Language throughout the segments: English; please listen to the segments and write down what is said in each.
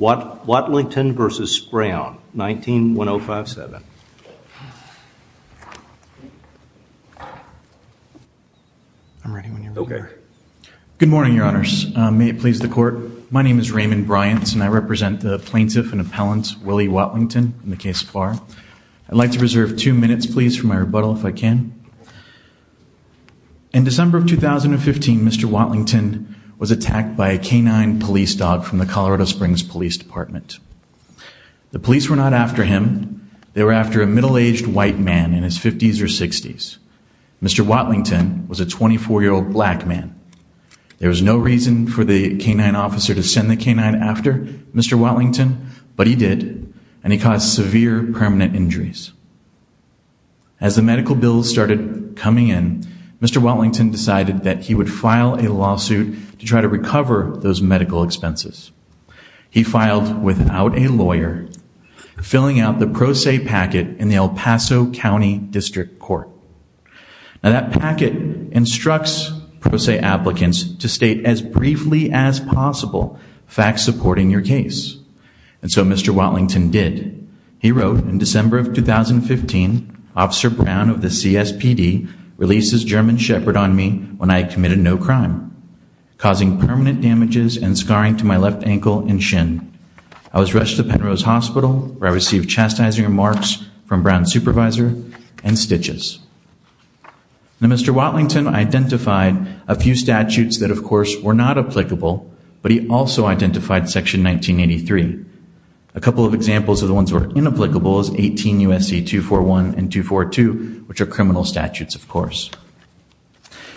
Watlington v. Browne, 19-1057. I'm ready when you're ready. Okay. Good morning, Your Honors. May it please the court. My name is Raymond Bryant and I represent the plaintiff and appellant Willie Watlington in the case of Farr. I'd like to reserve two minutes, please, for my rebuttal if I can. In December of 2015, Mr. Watlington was attacked by a canine police dog from the Springs Police Department. The police were not after him. They were after a middle-aged white man in his 50s or 60s. Mr. Watlington was a 24-year-old black man. There was no reason for the canine officer to send the canine after Mr. Watlington, but he did and he caused severe permanent injuries. As the medical bills started coming in, Mr. Watlington decided that he would file a lawsuit to try to recover those medical expenses. He filed without a lawyer, filling out the pro se packet in the El Paso County District Court. Now that packet instructs pro se applicants to state as briefly as possible facts supporting your case. And so Mr. Watlington did. He wrote in December of 2015, Officer Brown of the CSPD releases German Shepherd on me when I committed no crime, causing permanent damages and scarring to my left ankle and shin. I was rushed to Penrose Hospital where I received chastising remarks from Brown's supervisor and stitches. Now Mr. Watlington identified a few statutes that of course were not applicable, but he also identified section 1983. A couple of examples of the ones were inapplicable as 18 USC 241 and 242, which are criminal statutes, of course.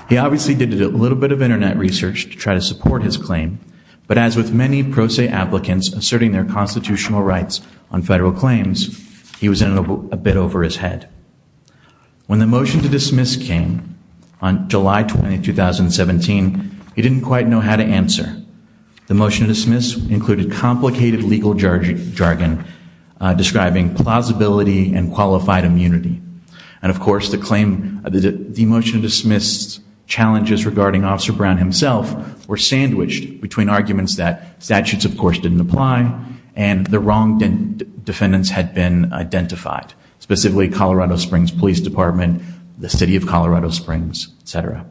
He obviously did a little bit of internet research to try to support his claim. But as with many pro se applicants asserting their constitutional rights on federal claims, he was in a bit over his head. When the motion to dismiss came on July 20, 2017, he didn't quite know how to answer. The motion to dismiss included complicated legal jargon describing plausibility and qualified immunity. And of course, the motion to dismiss challenges regarding Officer Brown himself were sandwiched between arguments that statutes, of course, didn't apply and the wrong defendants had been identified, specifically Colorado Springs Police Department, the city of Colorado Springs, etc.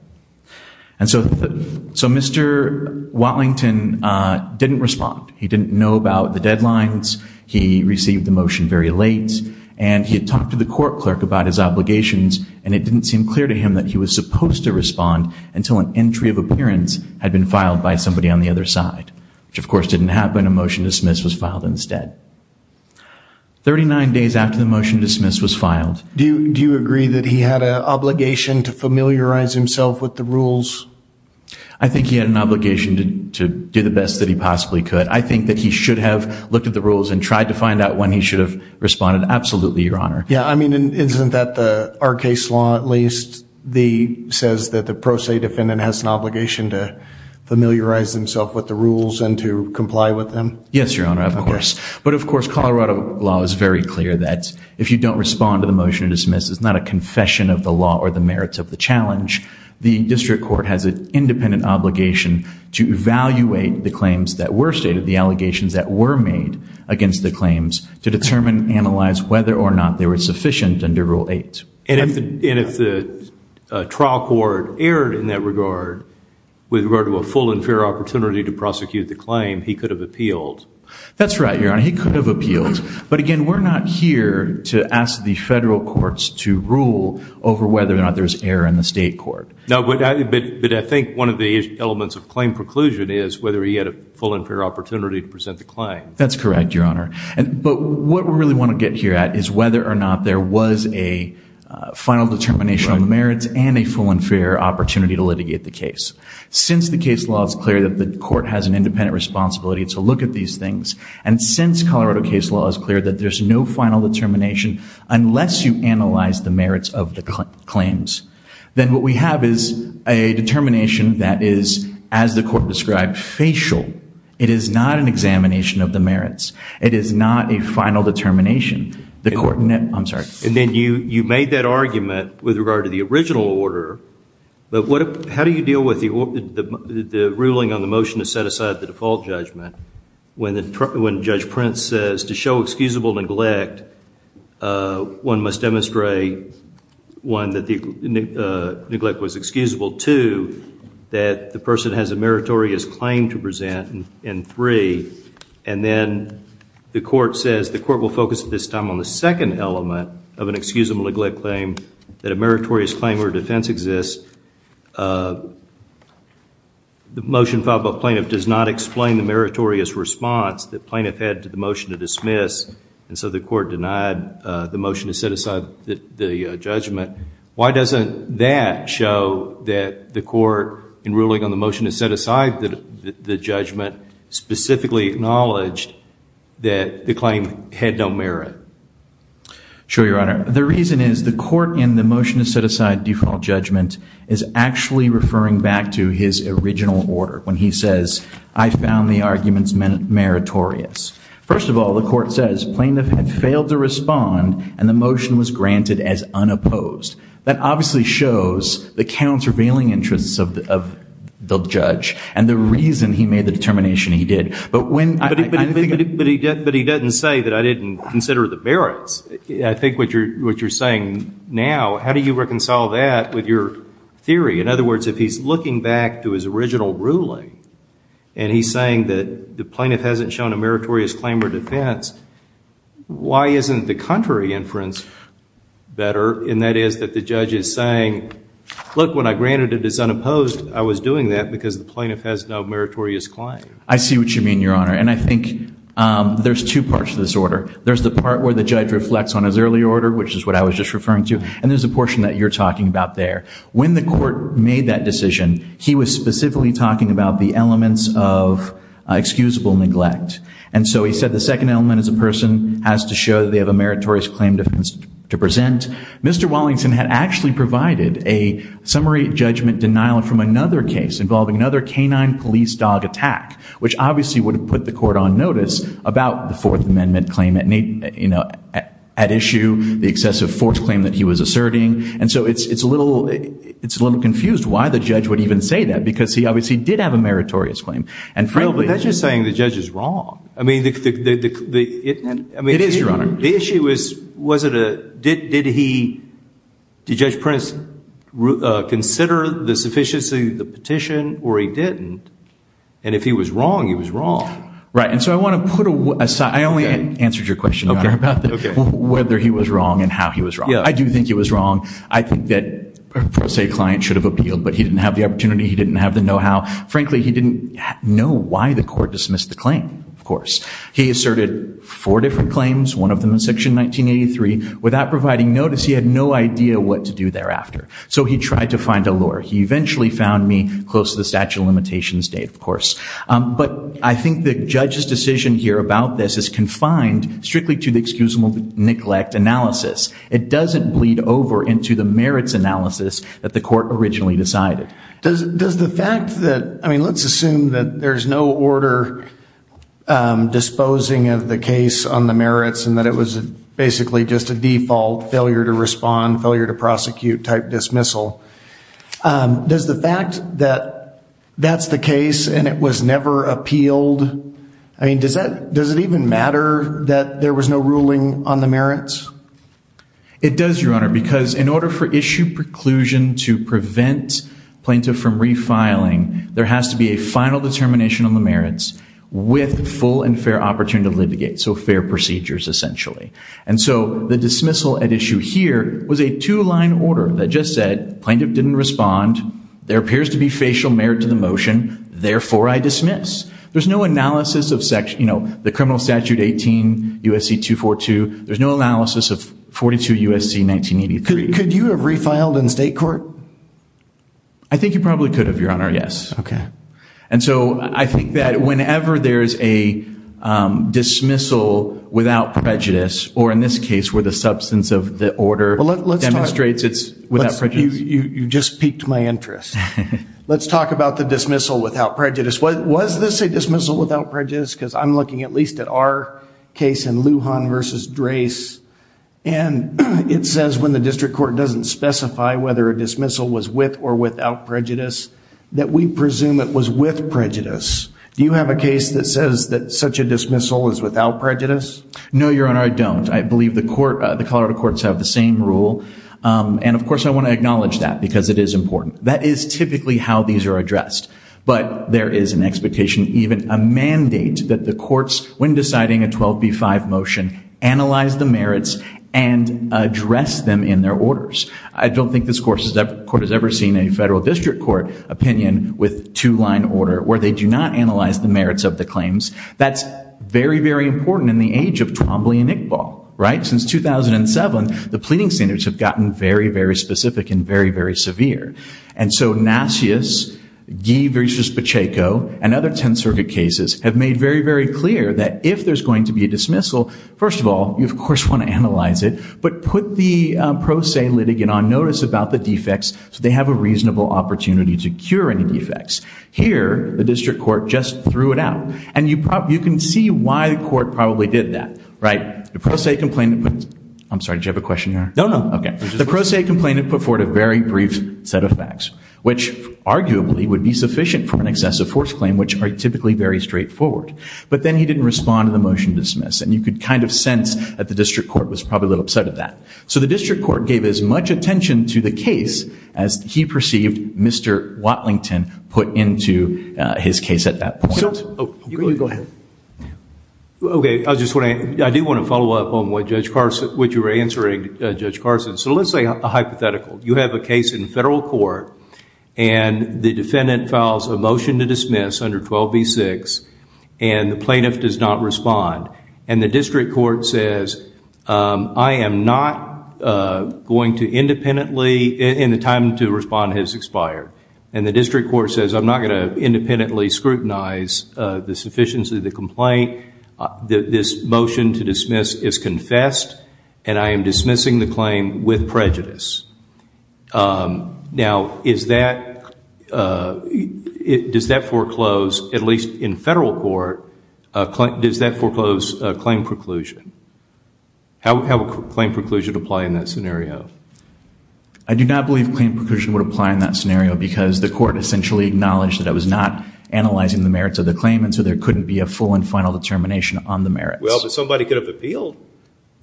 And so Mr. Watlington didn't respond. He didn't know about the deadlines. He received the motion very late and he had talked to the court clerk about his obligations and it didn't seem clear to him that he was supposed to respond until an entry of appearance had been filed by somebody on the other side, which of course didn't happen. A motion to dismiss was filed instead. 39 days after the motion to dismiss was filed. Do you agree that he had an obligation to familiarize himself with the rules? I think he had an obligation to do the best that he possibly could. I think that he should have looked at the rules and tried to find out when he should have responded. Absolutely, Your Honor. Yeah, I mean, isn't that the our case law at least the says that the pro se defendant has an obligation to familiarize himself with the rules and to comply with them? Yes, Your Honor, of course, but of course Colorado law is very clear that if you don't respond to the motion to dismiss is not a confession of the law or the merits of the challenge. The district court has an independent obligation to evaluate the claims that were stated the allegations that were made against the claims to determine analyze whether or not they were sufficient under Rule 8. And if the trial court erred in that regard with regard to a full and fair opportunity to prosecute the claim, he could have appealed. That's right, Your Honor. He could have appealed. But again, we're not here to ask the federal courts to rule over whether or not there's error in the state court. No, but I think one of the elements of claim preclusion is whether he had a full and fair opportunity to present the claim. That's correct, Your Honor. But what we really want to get here at is whether or not there was a final determination on the merits and a full and fair opportunity to litigate the case. Since the case law is clear that the court has an independent responsibility to look at these things and since Colorado case law is clear that there's no final determination unless you analyze the merits of the claims, then what we have is a determination that is, as the court described, facial. It is not an examination of the merits. It is not a final determination. The court, I'm sorry. And then you made that argument with regard to the original order, but how do you deal with the ruling on the motion to set aside the default judgment when Judge Prince says to show excusable neglect, one must demonstrate, one, that the neglect was excusable, two, that the person has a meritorious claim to present, and three, and then the court says, the court will focus at this time on the second element of an excusable neglect claim, that a meritorious claim or defense exists, the motion filed by plaintiff does not explain the meritorious response that plaintiff had to the motion to dismiss, and so the court denied the motion to set aside the judgment. Why doesn't that show that the court, in ruling on the motion to set aside the judgment, specifically acknowledged that the claim had no merit? Sure, Your Honor. The reason is the court, in the motion to set aside default judgment, is actually referring back to his original order when he says, I found the arguments meritorious. First of all, the court says plaintiff had failed to respond and the motion was granted as unopposed. That obviously shows the countervailing interests of the judge and the reason he made the determination he did. But when... But he doesn't say that I didn't consider the merits. I think what you're saying now, how do you reconcile that with your theory? In other words, if he's looking back to his original ruling and he's saying that the plaintiff hasn't shown a meritorious claim or defense, why isn't the contrary inference better? And that is that the judge is saying, look, when I granted as unopposed, I was doing that because the plaintiff has no meritorious claim. I see what you mean, Your Honor. And I think there's two parts to this order. There's the part where the judge reflects on his early order, which is what I was just referring to, and there's a portion that you're talking about there. When the court made that decision, he was specifically talking about the elements of excusable neglect. And so he said the second element is a person has to show that they have a meritorious claim defense to present. Mr. Wallington had actually provided a summary judgment denial from another case involving another canine police dog attack, which obviously would have put the court on notice about the Fourth Amendment claim at issue, the excessive force claim that he was asserting. And so it's a little confused why the judge would even say that because he obviously did have a meritorious claim. And frankly, that's just saying the judge is wrong. I mean, it is, Your Honor. The issue was, was it a, did he, did Judge Prince consider the sufficiency of the petition or he didn't? And if he was wrong, he was wrong. Right. And so I want to put aside, I only answered your question, Your Honor, about whether he was wrong and how he was wrong. I do think he was wrong. I think that, per se, a client should have appealed, but he didn't have the opportunity. He didn't have the know-how. Frankly, he didn't know why the court dismissed the claim. Of course, he asserted four different claims. One of them in section 1983. Without providing notice, he had no idea what to do thereafter. So he tried to find a lure. He eventually found me close to the statute of limitations date, of course. But I think the judge's decision here about this is confined strictly to the excusable neglect analysis. It doesn't bleed over into the merits analysis that the court originally decided. Does, does the fact that, I mean, let's assume that there's no order disposing of the case on the merits and that it was basically just a default failure to respond, failure to prosecute type dismissal. Does the fact that that's the case and it was never appealed, I mean, does that, does it even matter that there was no ruling on the merits? It does, Your Honor, because in order for issue preclusion to prevent plaintiff from refiling, there has to be a final determination on the merits with full and fair opportunity to litigate. So fair procedures, essentially. And so the dismissal at issue here was a two-line order that just said plaintiff didn't respond. There appears to be facial merit to the motion. Therefore, I dismiss. There's no analysis of section, you know, the criminal statute 18 USC 242. There's no analysis of 42 USC 1983. Could you have refiled in state court? I think you probably could have, Your Honor. Yes. Okay. And so I think that whenever there's a dismissal without prejudice, or in this case where the substance of the order demonstrates it's without prejudice. You just piqued my interest. Let's talk about the dismissal without prejudice. Was this a dismissal without prejudice? Because I'm looking at least at our case in Lujan versus Drace, and it says when the district court doesn't specify whether a dismissal was with or without prejudice, that we presume it was with prejudice. Do you have a case that says that such a dismissal is without prejudice? No, Your Honor. I don't. I believe the court, the Colorado courts have the same rule. And of course, I want to acknowledge that because it is important. That is typically how these are addressed. But there is an expectation, even a mandate, that the courts when deciding a 12b-5 motion, analyze the merits and address them in their orders. I don't think this court has ever seen a federal district court opinion with two-line order where they do not analyze the merits of the claims. That's very, very important in the age of Twombly and Iqbal. Right? Since 2007, the pleading standards have gotten very, very specific and very, very severe. And so Nassius, Guy versus Pacheco, and other Tenth Circuit cases have made very, very clear that if there's going to be a dismissal, first of all, you, of course, want to analyze it, but put the pro se litigant on notice about the defects so they have a reasonable opportunity to cure any defects. Here, the district court just threw it out. And you can see why the court probably did that, right? The pro se complainant put... I'm sorry, did you have a question here? No, no. Okay. The pro se complainant put forward a very brief set of facts, which arguably would be sufficient for an excessive force claim, which are typically very straightforward. But then he didn't respond to the motion dismiss, and you could kind of sense that the district court was probably a little upset at that. So the district court gave as much attention to the case as he perceived Mr. Watlington put into his case at that point. Okay, go ahead. Okay. I just want to, I do want to follow up on what Judge Carson, what you were answering, Judge Carson. So let's say a hypothetical. You have a case in federal court and the defendant files a motion to dismiss under 12b-6, and the plaintiff does not respond, and the district court says, I am not going to independently scrutinize the sufficiency of the complaint. This motion to dismiss is confessed, and I am dismissing the claim with prejudice. Now, is that, does that foreclose, at least in federal court, does that foreclose claim preclusion? How would claim preclusion apply in that scenario? I do not believe claim preclusion would apply in that scenario because the court essentially acknowledged that it was not analyzing the merits of the claim, and so there couldn't be a full and final determination on the merits. Well, but somebody could have appealed.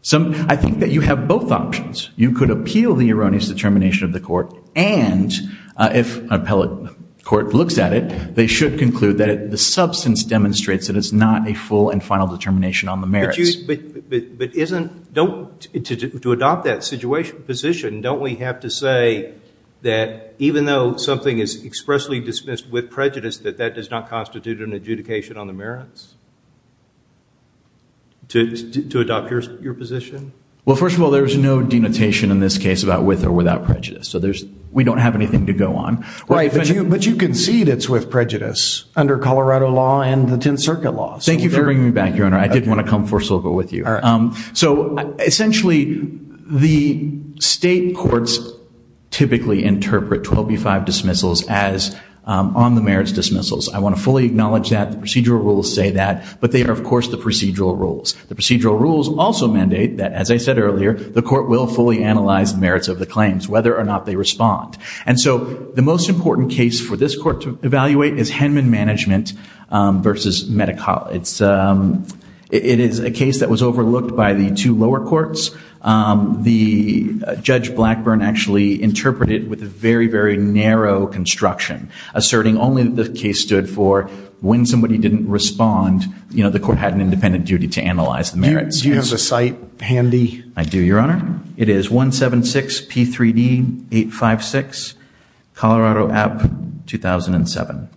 Some, I think that you have both options. You could appeal the erroneous determination of the court, and if an appellate court looks at it, they should conclude that the substance demonstrates that it's not a full and final determination on the merits. But you, but, but isn't, don't, to adopt that situation, position, don't we have to say that even though something is expressly dismissed with prejudice, that that does not constitute an adjudication on the merits? To, to adopt your, your position? Well, first of all, there's no denotation in this case about with or without prejudice. So there's, we don't have anything to go on. Right. But you, but you concede it's with prejudice under Colorado law and the Tenth Circuit law. So thank you for bringing me back, Your Honor. I did want to come forcibly with you. All right. So essentially the state courts typically interpret 12B-5 dismissals as on the merits dismissals. I want to fully acknowledge that the procedural rules say that, but they are, of course, the procedural rules. The procedural rules also mandate that, as I said earlier, the court will fully analyze the merits of the claims, whether or not they respond. And so the most important case for this court to evaluate is Henman Management versus MediCal. It's, it is a case that was overlooked by the two lower courts. The Judge Blackburn actually interpreted with a very, very narrow construction, asserting only that the case stood for when somebody didn't respond, you know, the court had an independent duty to analyze the merits. Do you have the site handy? I do, Your Honor. It is 176 P3D 856, Colorado App 2007.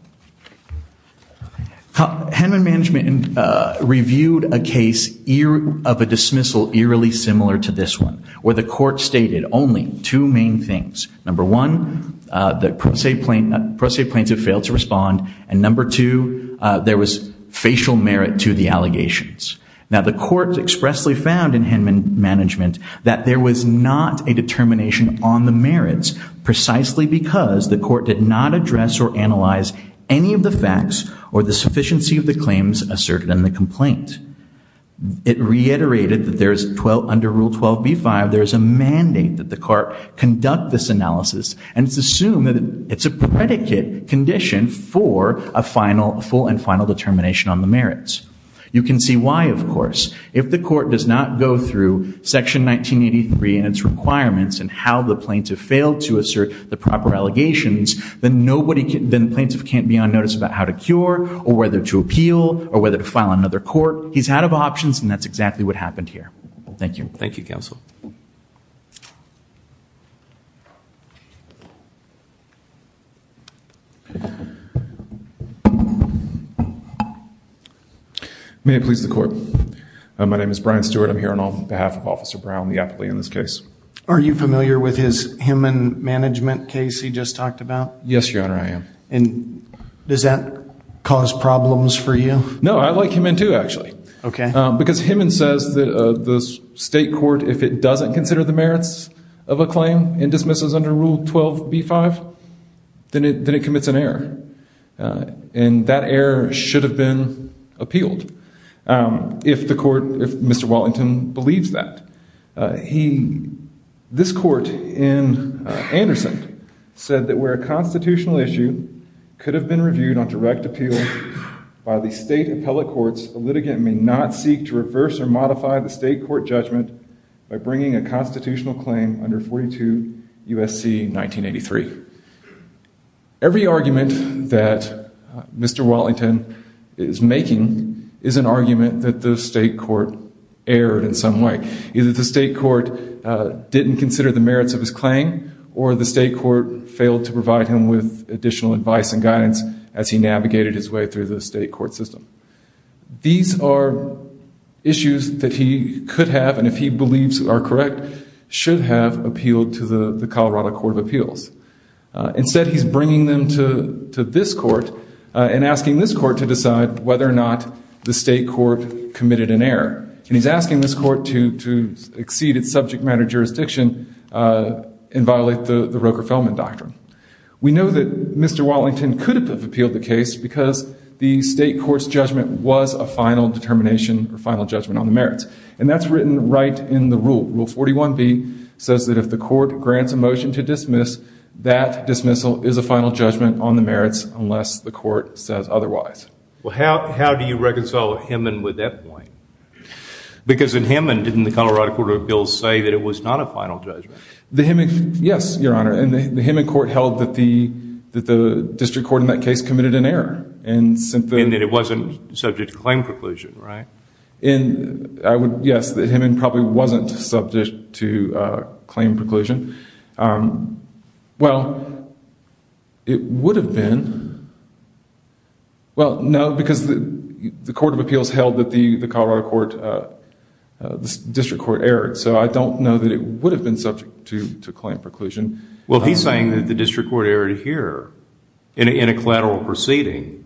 Henman Management reviewed a case of a dismissal eerily similar to this one, where the court stated only two main things. Number one, the pro se plaintiff failed to respond. And number two, there was facial merit to the allegations. Now the court expressly found in Henman Management that there was not a determination on the merits precisely because the any of the facts or the sufficiency of the claims asserted in the complaint. It reiterated that there's 12 under rule 12 B5. There is a mandate that the court conduct this analysis and it's assumed that it's a predicate condition for a final full and final determination on the merits. You can see why, of course, if the court does not go through section 1983 and its requirements and how the plaintiff failed to assert the proper allegations, then nobody can, then plaintiff can't be on notice about how to cure or whether to appeal or whether to file another court. He's out of options and that's exactly what happened here. Thank you. Thank you, counsel. May I please the court? My name is Brian Stewart. I'm here on behalf of Officer Brown, the appellee in this case. Are you familiar with his Henman Management case he just talked about? Yes, Your Honor, I am. And does that cause problems for you? No, I like him in too, actually. Okay, because Henman says that the state court, if it doesn't consider the merits of a claim and dismisses under rule 12 B5, then it commits an error. And that error should have been appealed. If the court, if Mr. Wallington believes that. He, this court in Anderson said that we're a constitutional issue could have been reviewed on direct appeal by the state appellate courts. The litigant may not seek to reverse or modify the state court judgment by bringing a constitutional claim under 42 USC 1983. Every argument that Mr. Wallington is making is an argument that the state court erred in some way. Either the state court didn't consider the merits of his additional advice and guidance as he navigated his way through the state court system. These are issues that he could have, and if he believes are correct, should have appealed to the Colorado Court of Appeals. Instead, he's bringing them to this court and asking this court to decide whether or not the state court committed an error. And he's asking this court to exceed its subject matter jurisdiction and violate the Roker-Feldman Doctrine. We know that Mr. Wallington could have appealed the case because the state court's judgment was a final determination or final judgment on the merits. And that's written right in the rule. Rule 41B says that if the court grants a motion to dismiss, that dismissal is a final judgment on the merits unless the court says otherwise. Well, how do you reconcile Himmon with that point? Because in Himmon, didn't the Colorado Court of Appeals say that it was not a final judgment? Yes, Your Honor. And the Himmon court held that the district court in that case committed an error. And that it wasn't subject to claim preclusion, right? Yes, Himmon probably wasn't subject to claim preclusion. Well, it would have been. Well, no, because the Court of Appeals held that the Colorado Court, the district court, erred. So I don't know that it would have been subject to claim preclusion. Well, he's saying that the district court erred here in a collateral proceeding.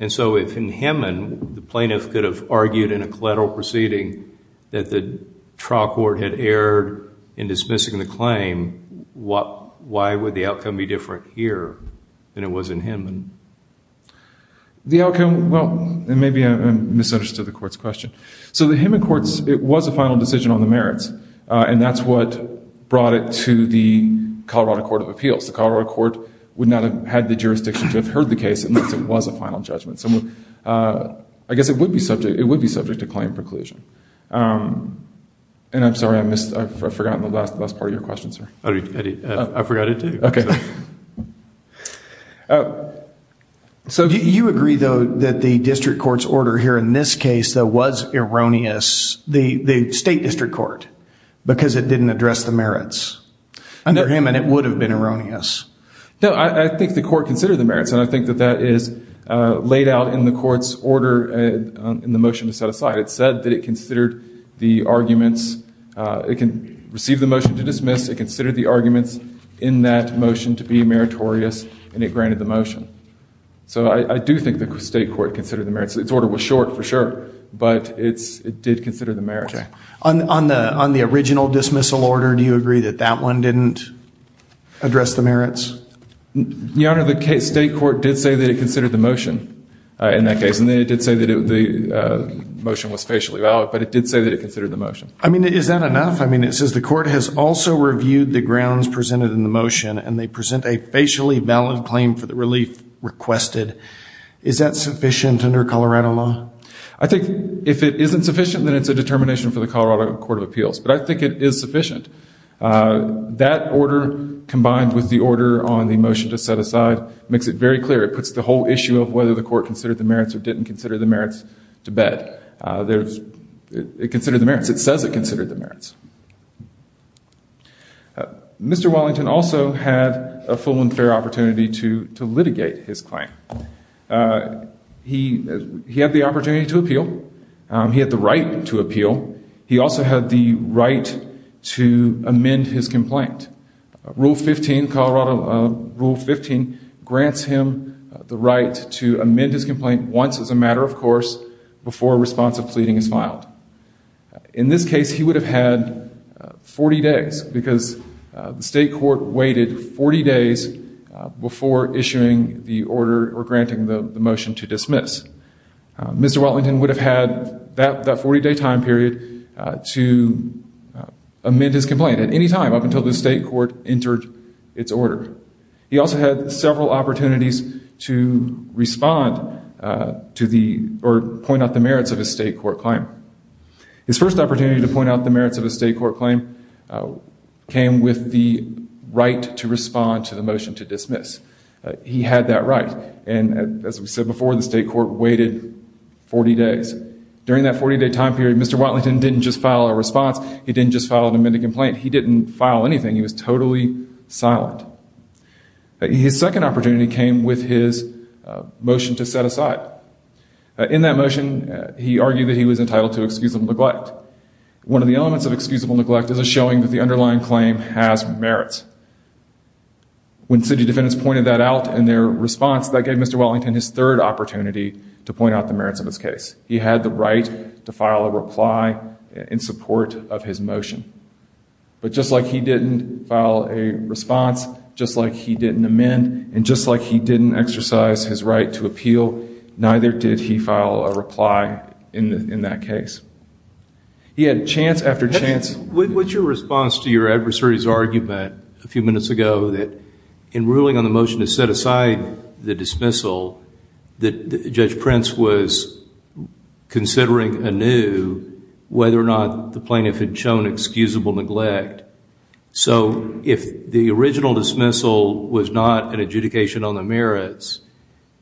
And so if in Himmon, the plaintiff could have argued in a collateral proceeding that the trial court had erred in dismissing the claim, why would the outcome be different here than it was in Himmon? The outcome, well, maybe I misunderstood the court's question. So the Himmon courts, it was a final decision on the merits. And that's what brought it to the Colorado Court of Appeals. The Colorado Court would not have had the jurisdiction to have heard the case unless it was a final judgment. So I guess it would be subject, it would be subject to claim preclusion. And I'm sorry, I missed, I've forgotten the last part of your question, sir. I forgot it too. Okay. So do you agree, though, that the district court's order here in this case that was erroneous, the state district court? Because it didn't address the merits under Himmon, it would have been erroneous. No, I think the court considered the merits, and I think that that is laid out in the court's order in the motion to set aside. It said that it considered the arguments, it can receive the motion to dismiss, it considered the arguments in that motion to be meritorious, and it granted the motion. So I do think the state court considered the merits. Its order was short for sure, but it's, it did consider the merits. On the original dismissal order, do you agree that that one didn't address the merits? Your Honor, the state court did say that it considered the motion in that case. And then it did say that the motion was facially valid, but it did say that it considered the motion. I mean, is that enough? I mean, it says the court has also reviewed the grounds presented in the motion, and they present a facially valid claim for the relief requested. Is that sufficient under Colorado law? I think if it isn't sufficient, then it's a determination for the Colorado Court of Appeals. But I think it is sufficient. That order combined with the order on the motion to set aside makes it very clear. It puts the whole issue of whether the court considered the merits or didn't consider the merits to bed. There's, it considered the merits. It says it considered the merits. Mr. Wellington also had a full and fair opportunity to litigate his claim. He had the opportunity to appeal. He had the right to appeal. He also had the right to amend his complaint. Rule 15, Colorado Rule 15 grants him the right to amend his complaint once as a matter of course, before a response of pleading is filed. The state court waited 40 days before issuing the order or granting the motion to dismiss. Mr. Wellington would have had that 40 day time period to amend his complaint at any time up until the state court entered its order. He also had several opportunities to respond to the, or point out the merits of his state court claim. His first opportunity to point out the merits of a state court claim came with the right to respond to the motion to dismiss. He had that right. And as we said before, the state court waited 40 days. During that 40 day time period, Mr. Wellington didn't just file a response. He didn't just file an amended complaint. He didn't file anything. He was totally silent. His second opportunity came with his motion to set aside. In that motion, he argued that he was entitled to excusable neglect. One of the elements of excusable neglect is a showing that the underlying claim has merits. When city defendants pointed that out in their response, that gave Mr. Wellington his third opportunity to point out the merits of his case. He had the right to file a reply in support of his motion. But just like he didn't file a response, just like he didn't amend, and just like he didn't exercise his right to appeal, neither did he file a reply in that case. He had chance after chance. What's your response to your adversary's argument a few minutes ago that in ruling on the motion to set aside the dismissal, that Judge Prince was considering anew whether or not the plaintiff had shown excusable neglect. So if the original dismissal was not an adjudication on the merits,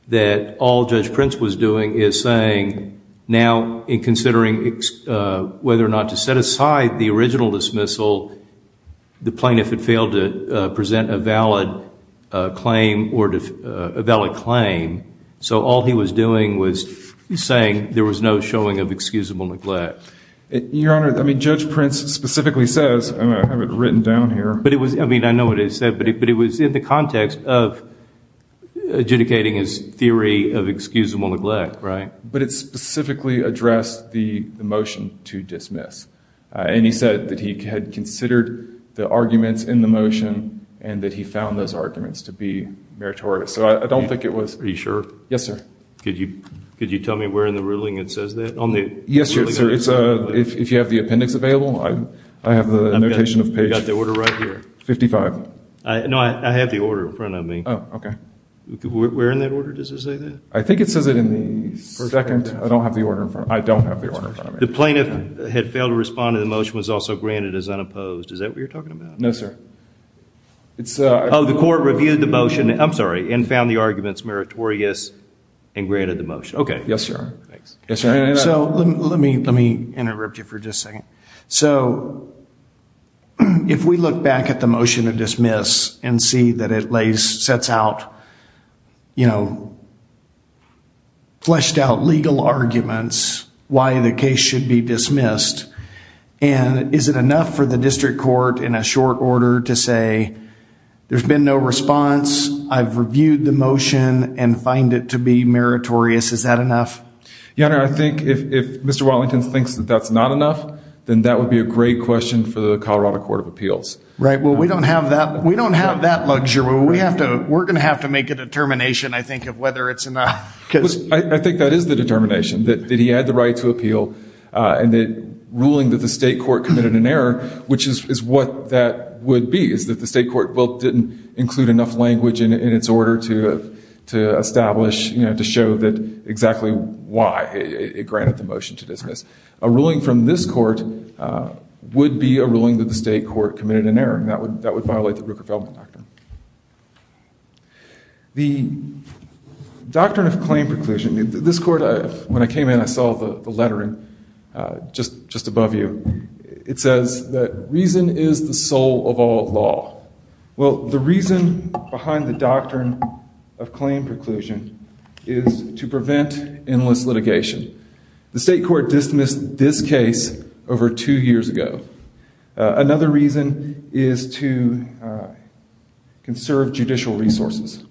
that all Judge Prince was doing is saying, now in whether or not to set aside the original dismissal, the plaintiff had failed to present a valid claim or a valid claim. So all he was doing was saying there was no showing of excusable neglect. Your Honor, I mean, Judge Prince specifically says, and I have it written down here. But it was, I mean, I know what it said, but it was in the context of adjudicating his theory of excusable neglect, right? But it specifically addressed the motion to dismiss. And he said that he had considered the arguments in the motion and that he found those arguments to be meritorious. So I don't think it was. Are you sure? Yes, sir. Could you tell me where in the ruling it says that? Yes, sir. It's a, if you have the appendix available, I have the notation of page 55. No, I have the order in front of me. Oh, okay. Where in that order does it say that? I think it says it in the second. I don't have the order in front of me. I don't have the order in front of me. The plaintiff had failed to respond to the motion was also granted as unopposed. Is that what you're talking about? No, sir. It's a, oh, the court reviewed the motion. I'm sorry, and found the arguments meritorious and granted the motion. Okay. Yes, sir. Thanks. Yes, sir. So let me, let me interrupt you for just a second. So if we look back at the motion of dismiss and see that it sets out, you know, fleshed out legal arguments, why the case should be dismissed and is it enough for the district court in a short order to say, there's been no response. I've reviewed the motion and find it to be meritorious. Is that enough? Yeah, I think if Mr. Wellington thinks that that's not enough, then that would be a great question for the Colorado court of appeals, right? Well, we don't have that. We don't have that luxury. We have to, we're going to have to make a determination. I think of whether it's enough. Because I think that is the determination that he had the right to appeal and the ruling that the state court committed an error, which is what that would be is that the state court will didn't include enough language in its order to, to establish, you know, to show that exactly why it granted the motion to dismiss. A ruling from this court would be a ruling that the state court committed an error. And that would, that would violate the Rooker-Feldman factor. The doctrine of claim preclusion, this court, when I came in, I saw the lettering just, just above you. It says that reason is the soul of all law. Well, the reason behind the doctrine of claim preclusion is to prevent endless litigation. The state court dismissed this case over two years ago. Another reason is to conserve judicial resources.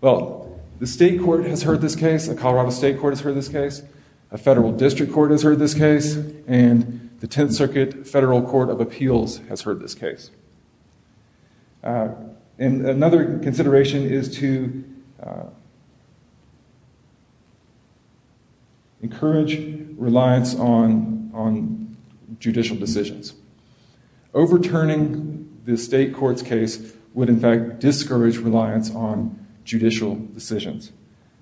Well, the state court has heard this case. A Colorado state court has heard this case. A federal district court has heard this case and the 10th Circuit Federal Court of Appeals has heard this case. And another consideration is to encourage reliance on, on judicial decisions. Overturning the state court's case would in fact discourage reliance on judicial decisions.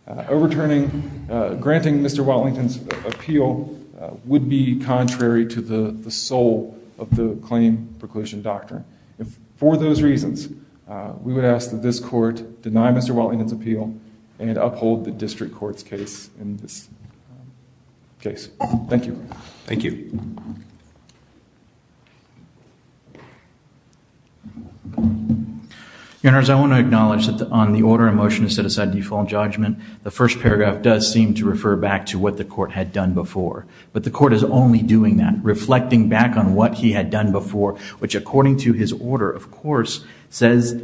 Overturning, granting Mr. Wellington's appeal would be contrary to the soul of the claim preclusion doctrine. If for those reasons, we would ask that this court deny Mr. Wellington's appeal and uphold the district court's case in this case. Thank you. Thank you. Your Honors, I want to acknowledge that on the order of motion to set aside default judgment, the first paragraph does seem to refer back to what the court had done before. But the court is only doing that, reflecting back on what he had done before, which according to his order, of course, says,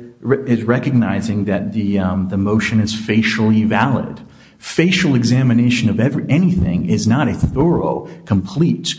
is recognizing that the motion is facially valid. Facial examination of anything is not a thorough, complete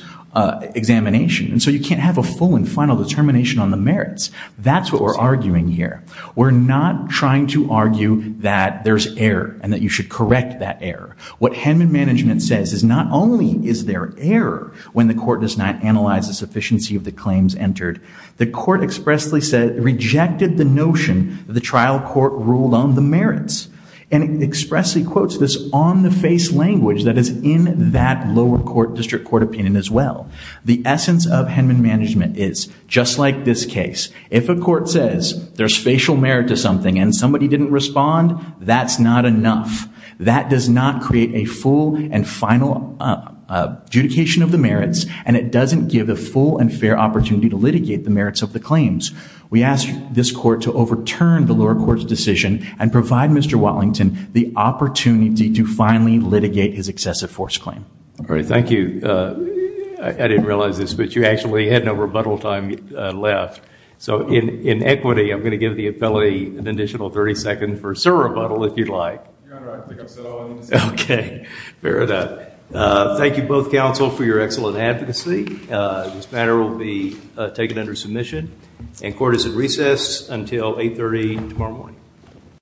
examination. And so you can't have a full and final determination on the merits. That's what we're arguing here. We're not trying to argue that there's error and that you should correct that error. What Henman Management says is not only is there error when the court does not analyze the sufficiency of the claims entered, the court expressly said, rejected the notion that the trial court ruled on the merits and expressly quotes this on the face language that is in that lower court district court opinion as well. The essence of Henman Management is just like this case. If a court says there's facial merit to something and somebody didn't respond, that's not enough. That does not create a full and final adjudication of the merits and it doesn't give a full and fair opportunity to litigate the merits of the claims. We ask this court to overturn the lower court's decision and provide Mr. Watlington the opportunity to finally litigate his excessive force claim. All right. Thank you. I didn't realize this, but you actually had no rebuttal time left. So in equity, I'm going to give the appellee an additional 30 seconds for a surrebuttal if you'd like. Okay, fair enough. Thank you both counsel for your excellent advocacy. This matter will be taken under submission and court is at recess until 8.30 tomorrow morning.